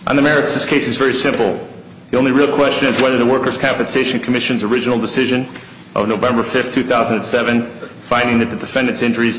On the merits, this case is very simple. The only real question is whether the Workers' Compensation Commission's original decision of November 5, 2007, finding that the defendant's employer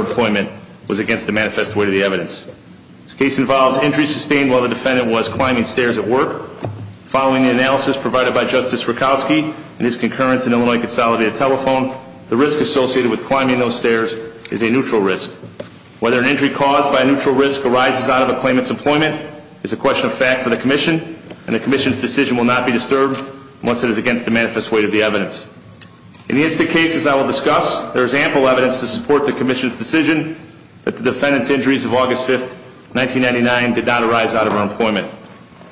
employment was against the manifest weight of the evidence. This case involves injuries sustained while the defendant was climbing stairs at work. Following the analysis provided by Justice Rutkowski and his concurrence in Illinois Consolidated Telephone, the risk associated with climbing those stairs is a neutral risk. Whether an injury caused by a neutral risk arises out of a claimant's employment is a question of fact for the Commission, and the Commission's decision will not be disturbed unless it is against the manifest weight of the evidence. In the incident cases I will discuss, there is ample evidence to support the Commission's decision that the defendant's injuries of August 5, 1999 did not arise out of her employment.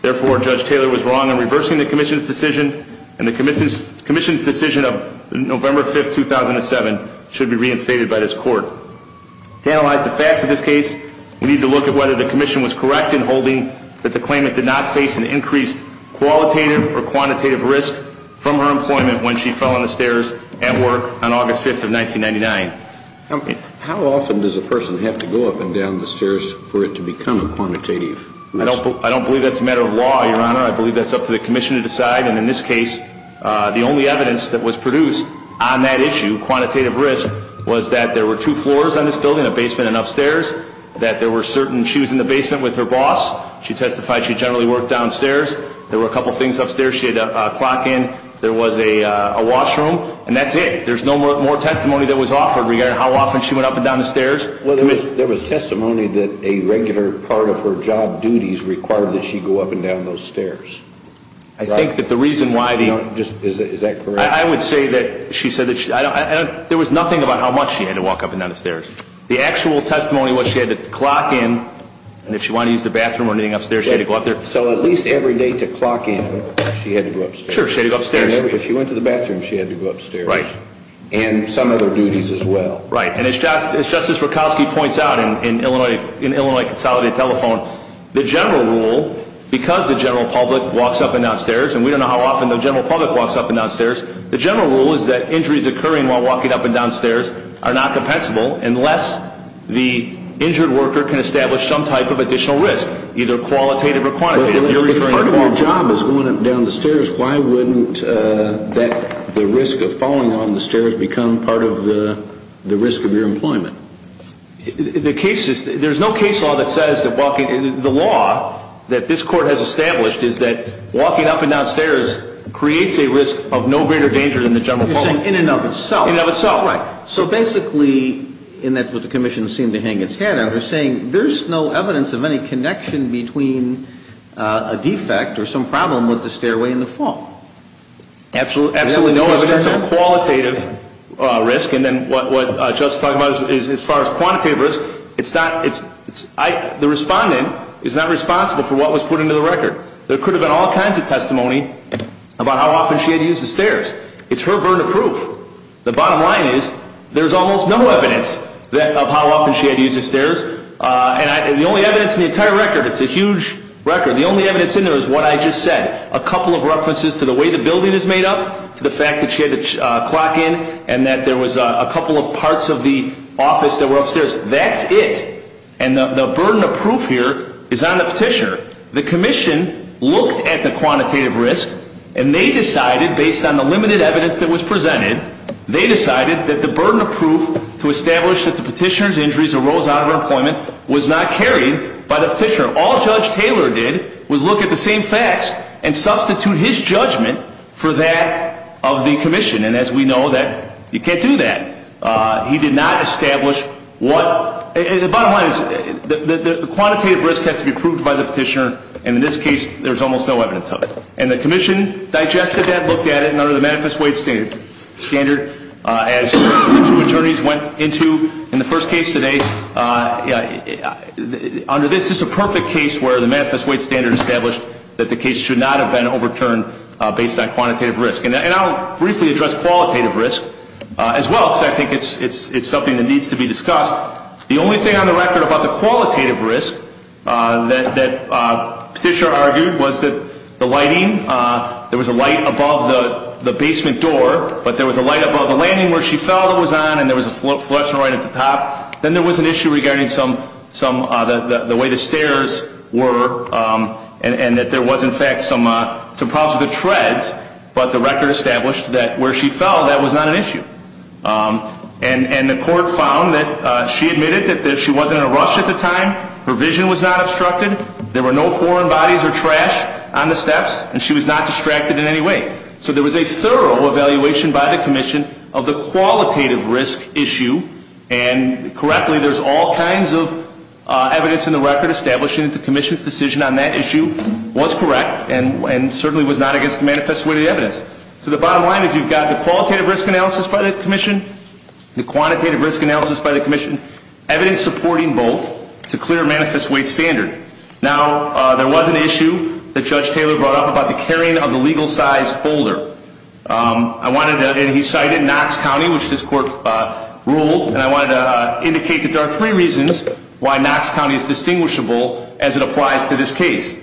Therefore, Judge Taylor was wrong in reversing the Commission's decision, and the Commission's decision of November 5, 2007 should be reinstated by this Court. To analyze the facts of this case, we need to look at whether the Commission was correct in holding that the claimant did not face an increased qualitative or quantitative risk from her employment when she fell on the stairs at work on August 5, 1999. How often does a person have to go up and down the stairs for it to become a quantitative risk? I don't believe that's a matter of law, Your Honor. I believe that's up to the Commission to decide, and in this case, the only evidence that was produced on that issue, quantitative risk, was that there were two floors on this building, a basement and upstairs, that there were certain she was in the basement with her boss. She testified she generally worked downstairs. There were a couple things upstairs she had to clock in. There was a washroom, and that's it. There's no more testimony that was offered regarding how often she went up and down the stairs. Well, there was testimony that a regular part of her job duties required that she go up and down those stairs. I think that the reason why the... Is that correct? I would say that she said that she... There was nothing about how much she had to walk up and down the stairs. The actual testimony was she had to clock in, and if she wanted to use the bathroom or anything upstairs, she had to go up there. So at least every day to clock in, she had to go upstairs. Sure, she had to go upstairs. If she went to the bathroom, she had to go upstairs. And some other duties as well. Right, and as Justice Rakowski points out in Illinois Consolidated Telephone, the general rule, because the general public walks up and down stairs, and we don't know how often the general public walks up and down stairs, the general rule is that injuries occurring while walking up and down stairs are not compensable unless the injured worker can establish some type of additional risk, either qualitative or quantitative. If part of your job is going up and down the stairs, why wouldn't the risk of falling down the stairs become part of the risk of your employment? The case is... There's no case law that says that walking... The law that this court has established is that walking up and down stairs creates a risk of no greater danger than the general public. You're saying in and of itself. In and of itself. Right. So basically, and that's what the commission seemed to hang its head under, saying there's no evidence of any connection between a defect or some problem with the stairway and the fall. Absolutely no evidence of qualitative risk. And then what Justice is talking about as far as quantitative risk, it's not... The respondent is not responsible for what was put into the record. There could have been all kinds of testimony about how often she had used the stairs. It's her burden of proof. The bottom line is, there's almost no evidence of how often she had used the stairs. And the only evidence in the entire record, it's a huge record, the only evidence in there is what I just said. A couple of references to the way the building is made up, to the fact that she had the clock in, and that there was a couple of parts of the office that were upstairs. That's it. And the burden of proof here is on the petitioner. The commission looked at the quantitative risk, and they decided, based on the limited evidence that was presented, they decided that the burden of proof to establish that the petitioner's injuries arose out of her employment was not carried by the petitioner. All Judge Taylor did was look at the same facts and substitute his judgment for that of the commission. And as we know, you can't do that. He did not establish what... The bottom line is, the quantitative risk has to be proved by the petitioner, and in this case, there's almost no evidence of it. And the commission digested that, looked at it, and under the Manifest Weight Standard, as the two attorneys went into in the first case today, under this, this is a perfect case where the Manifest Weight Standard established that the case should not have been overturned based on quantitative risk. And I'll briefly address qualitative risk as well, because I think it's something that needs to be discussed. The only thing on the record about the qualitative risk that Fisher argued was that the lighting, there was a light above the basement door, but there was a light above the landing where she fell that was on, and there was a flusher right at the top. Then there was an issue regarding some, the way the stairs were, and that there was in fact some problems with the treads, but the record established that where she fell, that was not an issue. And the court found that she admitted that she wasn't in a rush at the time, her vision was not obstructed, there were no foreign bodies or trash on the steps, and she was not distracted in any way. So there was a thorough evaluation by the commission of the qualitative risk issue, and correctly, there's all kinds of evidence in the record establishing that the commission's decision on that issue was correct, and certainly was not against the Manifest Weight evidence. So the bottom line is you've got the qualitative risk analysis by the commission, the quantitative risk analysis by the commission, evidence supporting both, it's a clear Manifest Weight standard. Now, there was an issue that Judge Taylor brought up about the carrying of the legal size folder. I wanted to, and he cited Knox County, which this court ruled, and I wanted to indicate that there are three reasons why Knox County is distinguishable as it applies to this case.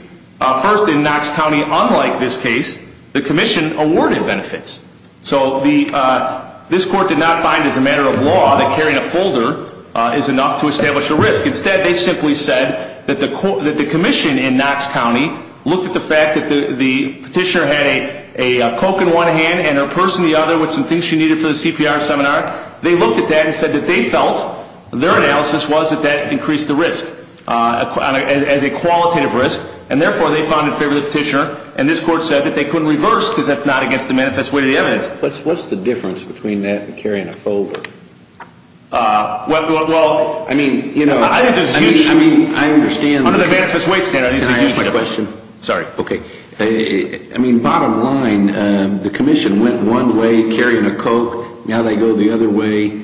First, in Knox County, unlike this case, the commission awarded benefits. So this court did not find, as a matter of law, that carrying a folder is enough to establish a risk. Instead, they simply said that the commission in Knox County looked at the fact that the petitioner had a Coke in one hand and her purse in the other with some things she needed for the CPR seminar. They looked at that and said that they felt their analysis was that that increased the And therefore, they found it in favor of the petitioner, and this court said that they couldn't reverse because that's not against the Manifest Weight of the evidence. What's the difference between that and carrying a folder? Well, I mean, you know, under the Manifest Weight standard, there's a huge difference. Can I ask you a question? Sorry. Okay. I mean, bottom line, the commission went one way carrying a Coke. Now they go the other way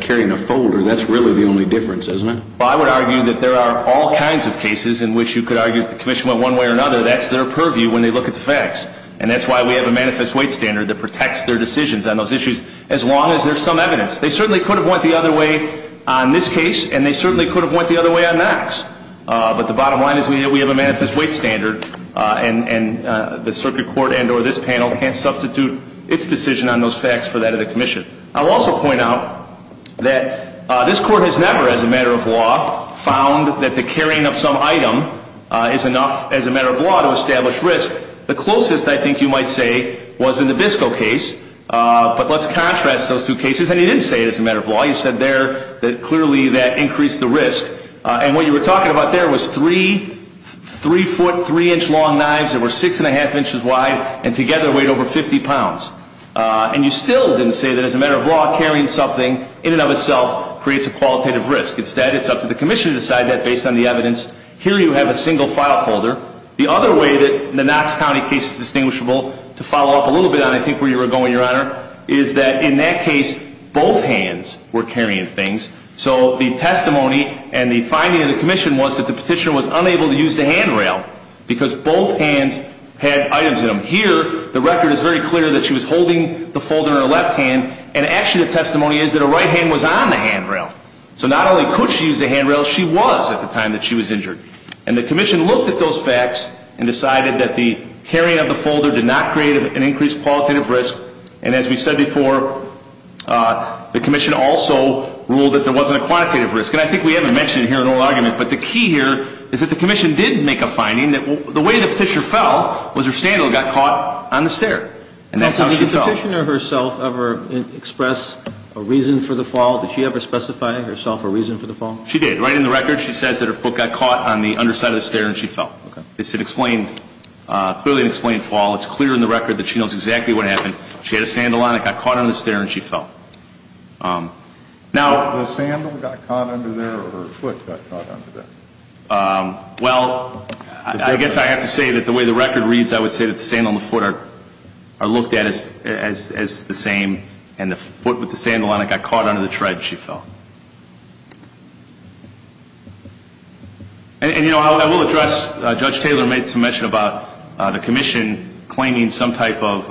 carrying a folder. That's really the only difference, isn't it? Well, I would argue that there are all kinds of cases in which you could argue that the commission went one way or another. That's their purview when they look at the facts. And that's why we have a Manifest Weight standard that protects their decisions on those issues, as long as there's some evidence. They certainly could have went the other way on this case, and they certainly could have went the other way on Knox. But the bottom line is we have a Manifest Weight standard, and the circuit court and or this panel can't substitute its decision on those facts for that of the commission. I'll also point out that this court has never, as a matter of law, found that the carrying of some item is enough, as a matter of law, to establish risk. The closest, I think you might say, was in the Biscoe case. But let's contrast those two cases. And you didn't say it as a matter of law. You said there that clearly that increased the risk. And what you were talking about there was three foot, three inch long knives that were six and a half inches wide and together weighed over 50 pounds. And you still didn't say that as a matter of law, carrying something in and of itself creates a qualitative risk. Instead, it's up to the commission to decide that based on the evidence. Here you have a single file folder. The other way that the Knox County case is distinguishable, to follow up a little bit on I think where you were going, Your Honor, is that in that case, both hands were carrying things. So the testimony and the finding of the commission was that the petitioner was unable to use the handrail because both hands had items in them. Here, the record is very clear that she was holding the folder in her left hand, and actually the testimony is that her right hand was on the handrail. So not only could she use the handrail, she was at the time that she was injured. And the commission looked at those facts and decided that the carrying of the folder did not create an increased qualitative risk. And as we said before, the commission also ruled that there wasn't a quantitative risk. And I think we haven't mentioned it here in oral argument, but the key here is that the commission did make a finding that the way the petitioner fell was her standal got caught on the stair. And that's how she fell. Did the petitioner herself ever express a reason for the fall? Did she ever specify herself a reason for the fall? She did. Right in the record, she says that her foot got caught on the underside of the stair and she fell. Okay. It's clearly an explained fall. It's clear in the record that she knows exactly what happened. She had a sandal on. It got caught on the stair and she fell. Now The sandal got caught under there or her foot got caught under there? Well, I guess I have to say that the way the record reads, I would say that the same and the foot with the sandal on it got caught under the tread and she fell. And, you know, I will address Judge Taylor made some mention about the commission claiming some type of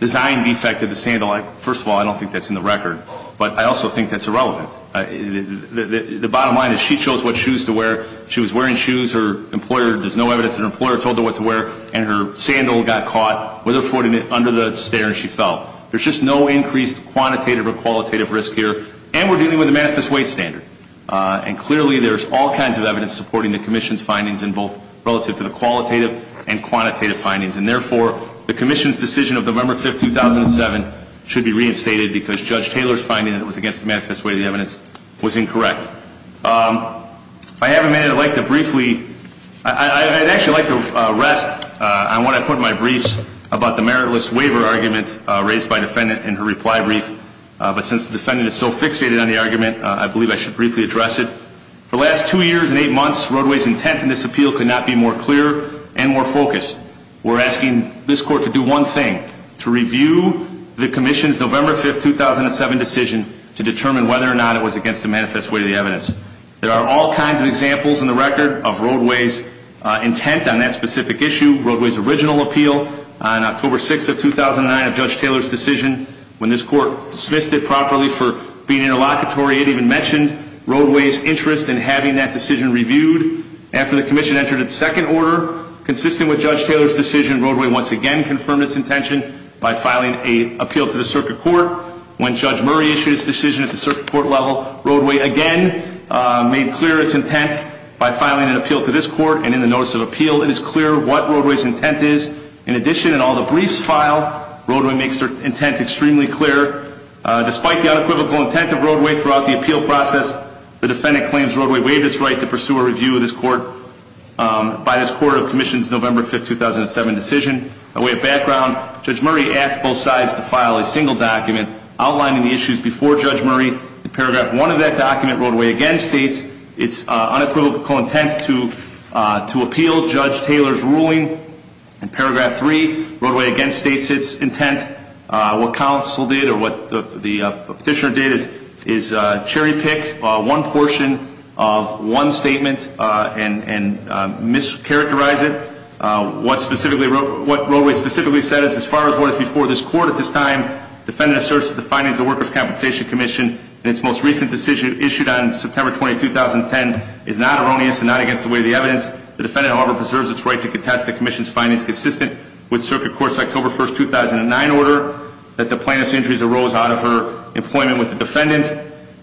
design defect of the sandal. First of all, I don't think that's in the record. But I also think that's irrelevant. The bottom line is she chose what shoes to wear. She was wearing shoes. Her employer, there's no evidence that her employer told her what to wear. And her sandal got caught with her foot under the stair and she fell. There's just no increased quantitative or qualitative risk here. And we're dealing with a manifest weight standard. And clearly there's all kinds of evidence supporting the commission's findings in both relative to the qualitative and quantitative findings. And therefore, the commission's decision of November 5, 2007 should be reinstated because Judge Taylor's finding that it was against the manifest weight of the evidence was incorrect. I have a minute I'd like to briefly, I'd actually like to rest on what I put in my briefs about the meritless waiver argument raised by defendant in her reply brief. But since the defendant is so fixated on the argument, I believe I should briefly address it. For the last two years and eight months, Roadway's intent in this appeal could not be more clear and more focused. We're asking this court to do one thing, to review the commission's November 5, 2007 decision to determine whether or not it was against the manifest weight of the evidence. There are all kinds of examples in the record of Roadway's intent on that specific issue. Roadway's original appeal on October 6, 2009 of Judge Taylor's decision, when this court dismissed it properly for being interlocutory, it even mentioned Roadway's interest in having that decision reviewed. After the commission entered its second order, consistent with Judge Taylor's decision, Roadway once again confirmed its intention by filing an appeal to the circuit court. When Judge Murray issued his decision at the circuit court level, Roadway again made clear its intent by filing an appeal to this court, and in the notice of appeal, it is clear what Roadway's intent is. In addition, in all the briefs filed, Roadway makes her intent extremely clear. Despite the unequivocal intent of Roadway throughout the appeal process, the defendant claims Roadway waived its right to pursue a review of this court by this court of the commission's November 5, 2007 decision. A way of background, Judge Murray asked both sides to file a single document outlining the issues before Judge Murray. In paragraph one of that document, Roadway again states its unequivocal intent to appeal Judge Taylor's ruling. In paragraph three, Roadway again states its intent. What counsel did or what the petitioner did is cherry pick one portion of one statement and mischaracterize it. What Roadway specifically said is as far as what is before this court at this time, defendant asserts that the findings of the Workers' Compensation Commission in its most recent decision issued on September 20, 2010 is not erroneous and not against the weight of the evidence. The defendant, however, preserves its right to contest the commission's findings consistent with circuit court's October 1, 2009 order that the plaintiff's injuries arose out of her employment with the defendant.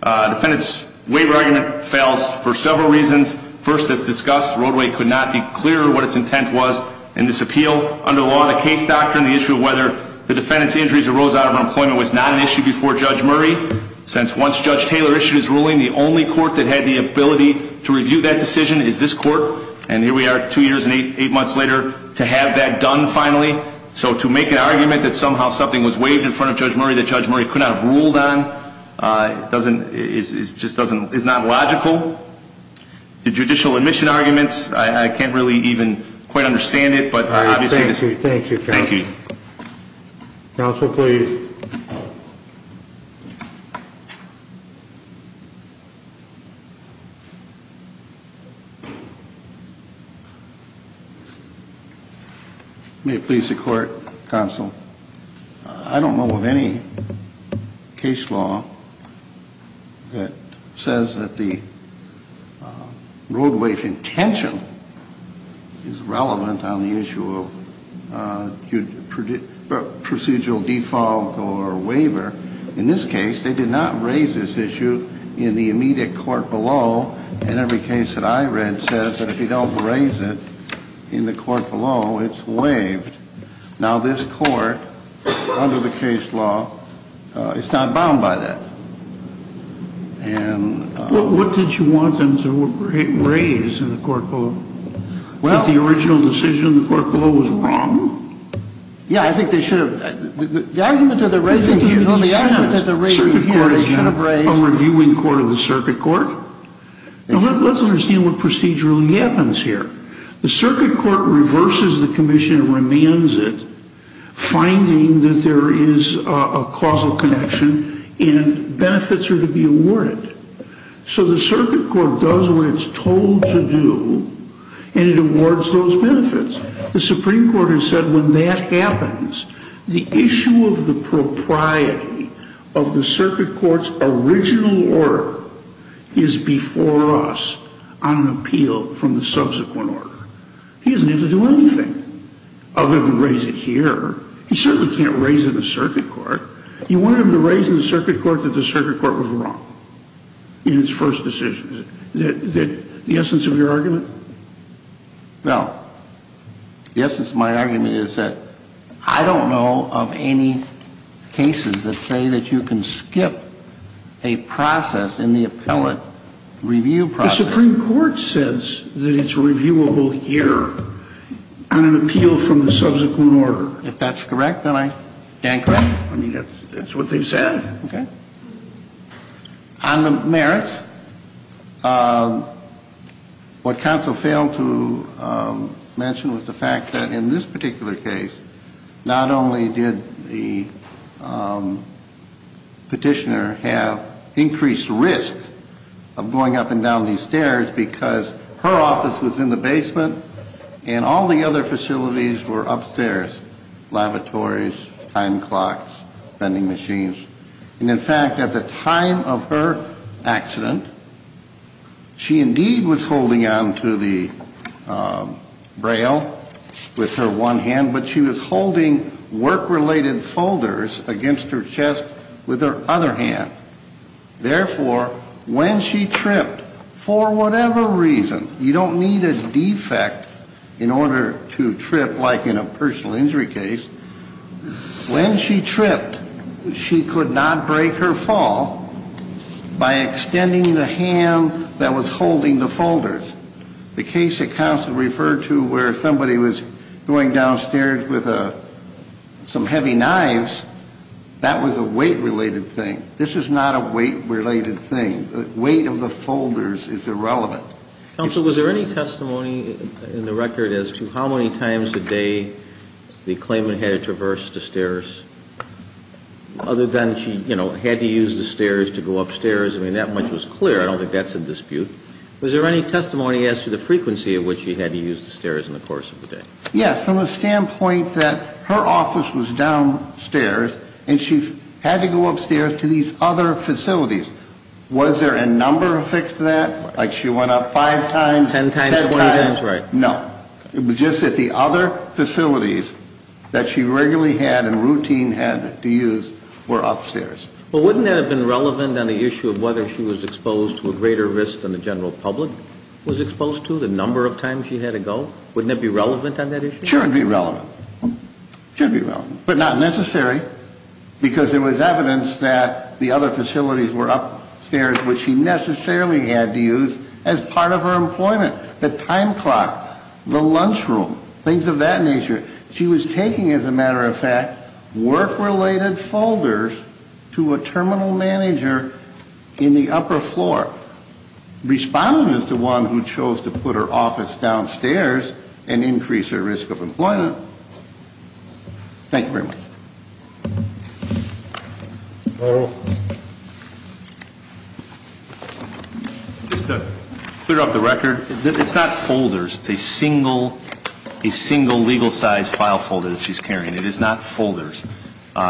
Defendant's waiver argument fails for several reasons. First, as discussed, Roadway could not be clearer what its intent was in this appeal. Under law, the case doctrine, the issue of whether the defendant's injuries arose out of her employment was not an issue before Judge Murray since once Judge Taylor issued his ruling, the only court that had the ability to review that decision is this court. And here we are two years and eight months later to have that done finally. So to make an argument that somehow something was waived in front of Judge Murray that Judge Murray could not have ruled on is not logical. The judicial admission arguments, I can't really even quite understand it. Thank you. Thank you. Thank you. Counsel, please. May it please the court, counsel, I don't know of any case law that says that the Roadway's intention is relevant on the issue of procedural default or waiver. In this case, they did not raise this issue in the immediate court below, and every case that I read says that if you don't raise it in the court below, it's waived. Now, this court, under the case law, is not bound by that. What did you want them to raise in the court below? That the original decision in the court below was wrong? Yeah, I think they should have. The argument that they're raising here, the argument that they're raising here, they should have raised. Circuit court is not a reviewing court of the circuit court. Now, let's understand what procedurally happens here. The circuit court reverses the commission and remands it, finding that there is a benefits are to be awarded. So the circuit court does what it's told to do, and it awards those benefits. The Supreme Court has said when that happens, the issue of the propriety of the circuit court's original order is before us on appeal from the subsequent order. He doesn't have to do anything other than raise it here. He certainly can't raise it in the circuit court. You want him to raise in the circuit court that the circuit court was wrong in its first decision. Is that the essence of your argument? No. The essence of my argument is that I don't know of any cases that say that you can skip a process in the appellate review process. The Supreme Court says that it's reviewable here on an appeal from the subsequent order. If that's correct, then I stand corrected. I mean, that's what they've said. Okay. On the merits, what counsel failed to mention was the fact that in this particular case, not only did the petitioner have increased risk of going up and down these stairs because her office was in the basement and all the other facilities were upstairs, lavatories, time clocks, vending machines. And in fact, at the time of her accident, she indeed was holding on to the braille with her one hand, but she was holding work-related folders against her chest with her other hand. Therefore, when she tripped, for whatever reason, you don't need a defect in order to trip like in a personal injury case. When she tripped, she could not break her fall by extending the hand that was holding the folders. The case that counsel referred to where somebody was going downstairs with some heavy knives, that was a weight-related thing. This is not a weight-related thing. The weight of the folders is irrelevant. Counsel, was there any testimony in the record as to how many times a day the claimant had to traverse the stairs other than she, you know, had to use the stairs to go upstairs? I mean, that much was clear. I don't think that's a dispute. Was there any testimony as to the frequency at which she had to use the stairs in the course of the day? Yes, from a standpoint that her office was downstairs and she had to go upstairs to these other facilities. Was there a number affixed to that? Like she went up five times, ten times? Ten times, 20 times, right. No. It was just that the other facilities that she regularly had and routine had to use were upstairs. Well, wouldn't that have been relevant on the issue of whether she was exposed to a greater risk than the general public was exposed to, the number of times she had to go? Wouldn't that be relevant on that issue? Sure, it would be relevant. It should be relevant, but not necessary because there was evidence that the other as part of her employment, the time clock, the lunch room, things of that nature. She was taking, as a matter of fact, work-related folders to a terminal manager in the upper floor, responding as the one who chose to put her office downstairs and increase her risk of employment. Thank you very much. Just to clear up the record, it's not folders. It's a single legal size file folder that she's carrying. It is not folders.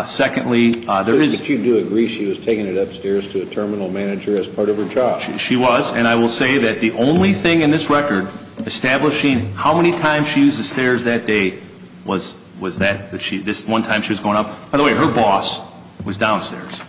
Secondly, there is – But you do agree she was taking it upstairs to a terminal manager as part of her job. She was. And I will say that the only thing in this record establishing how many times she used the stairs that day was that. This one time she was going up. By the way, her boss was downstairs.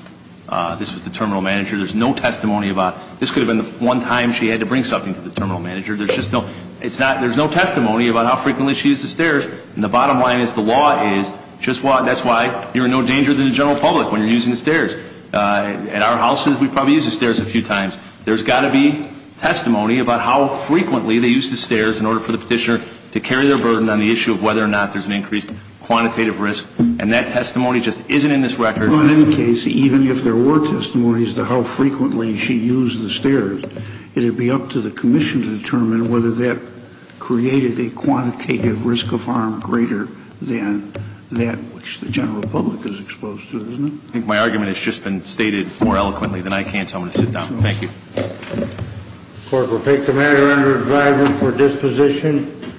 This was the terminal manager. There's no testimony about – this could have been the one time she had to bring something to the terminal manager. There's just no – it's not – there's no testimony about how frequently she used the stairs. And the bottom line is the law is just – that's why you're in no danger to the general public when you're using the stairs. At our houses, we probably use the stairs a few times. There's got to be testimony about how frequently they used the stairs in order for the petitioner to carry their burden on the issue of whether or not there's an increased quantitative risk. And that testimony just isn't in this record. Well, in any case, even if there were testimonies to how frequently she used the stairs, it would be up to the commission to determine whether that created a quantitative risk of harm greater than that which the general public is exposed to, isn't it? I think my argument has just been stated more eloquently than I can, so I'm going to sit down. Thank you. The court will take the matter under advisement for disposition.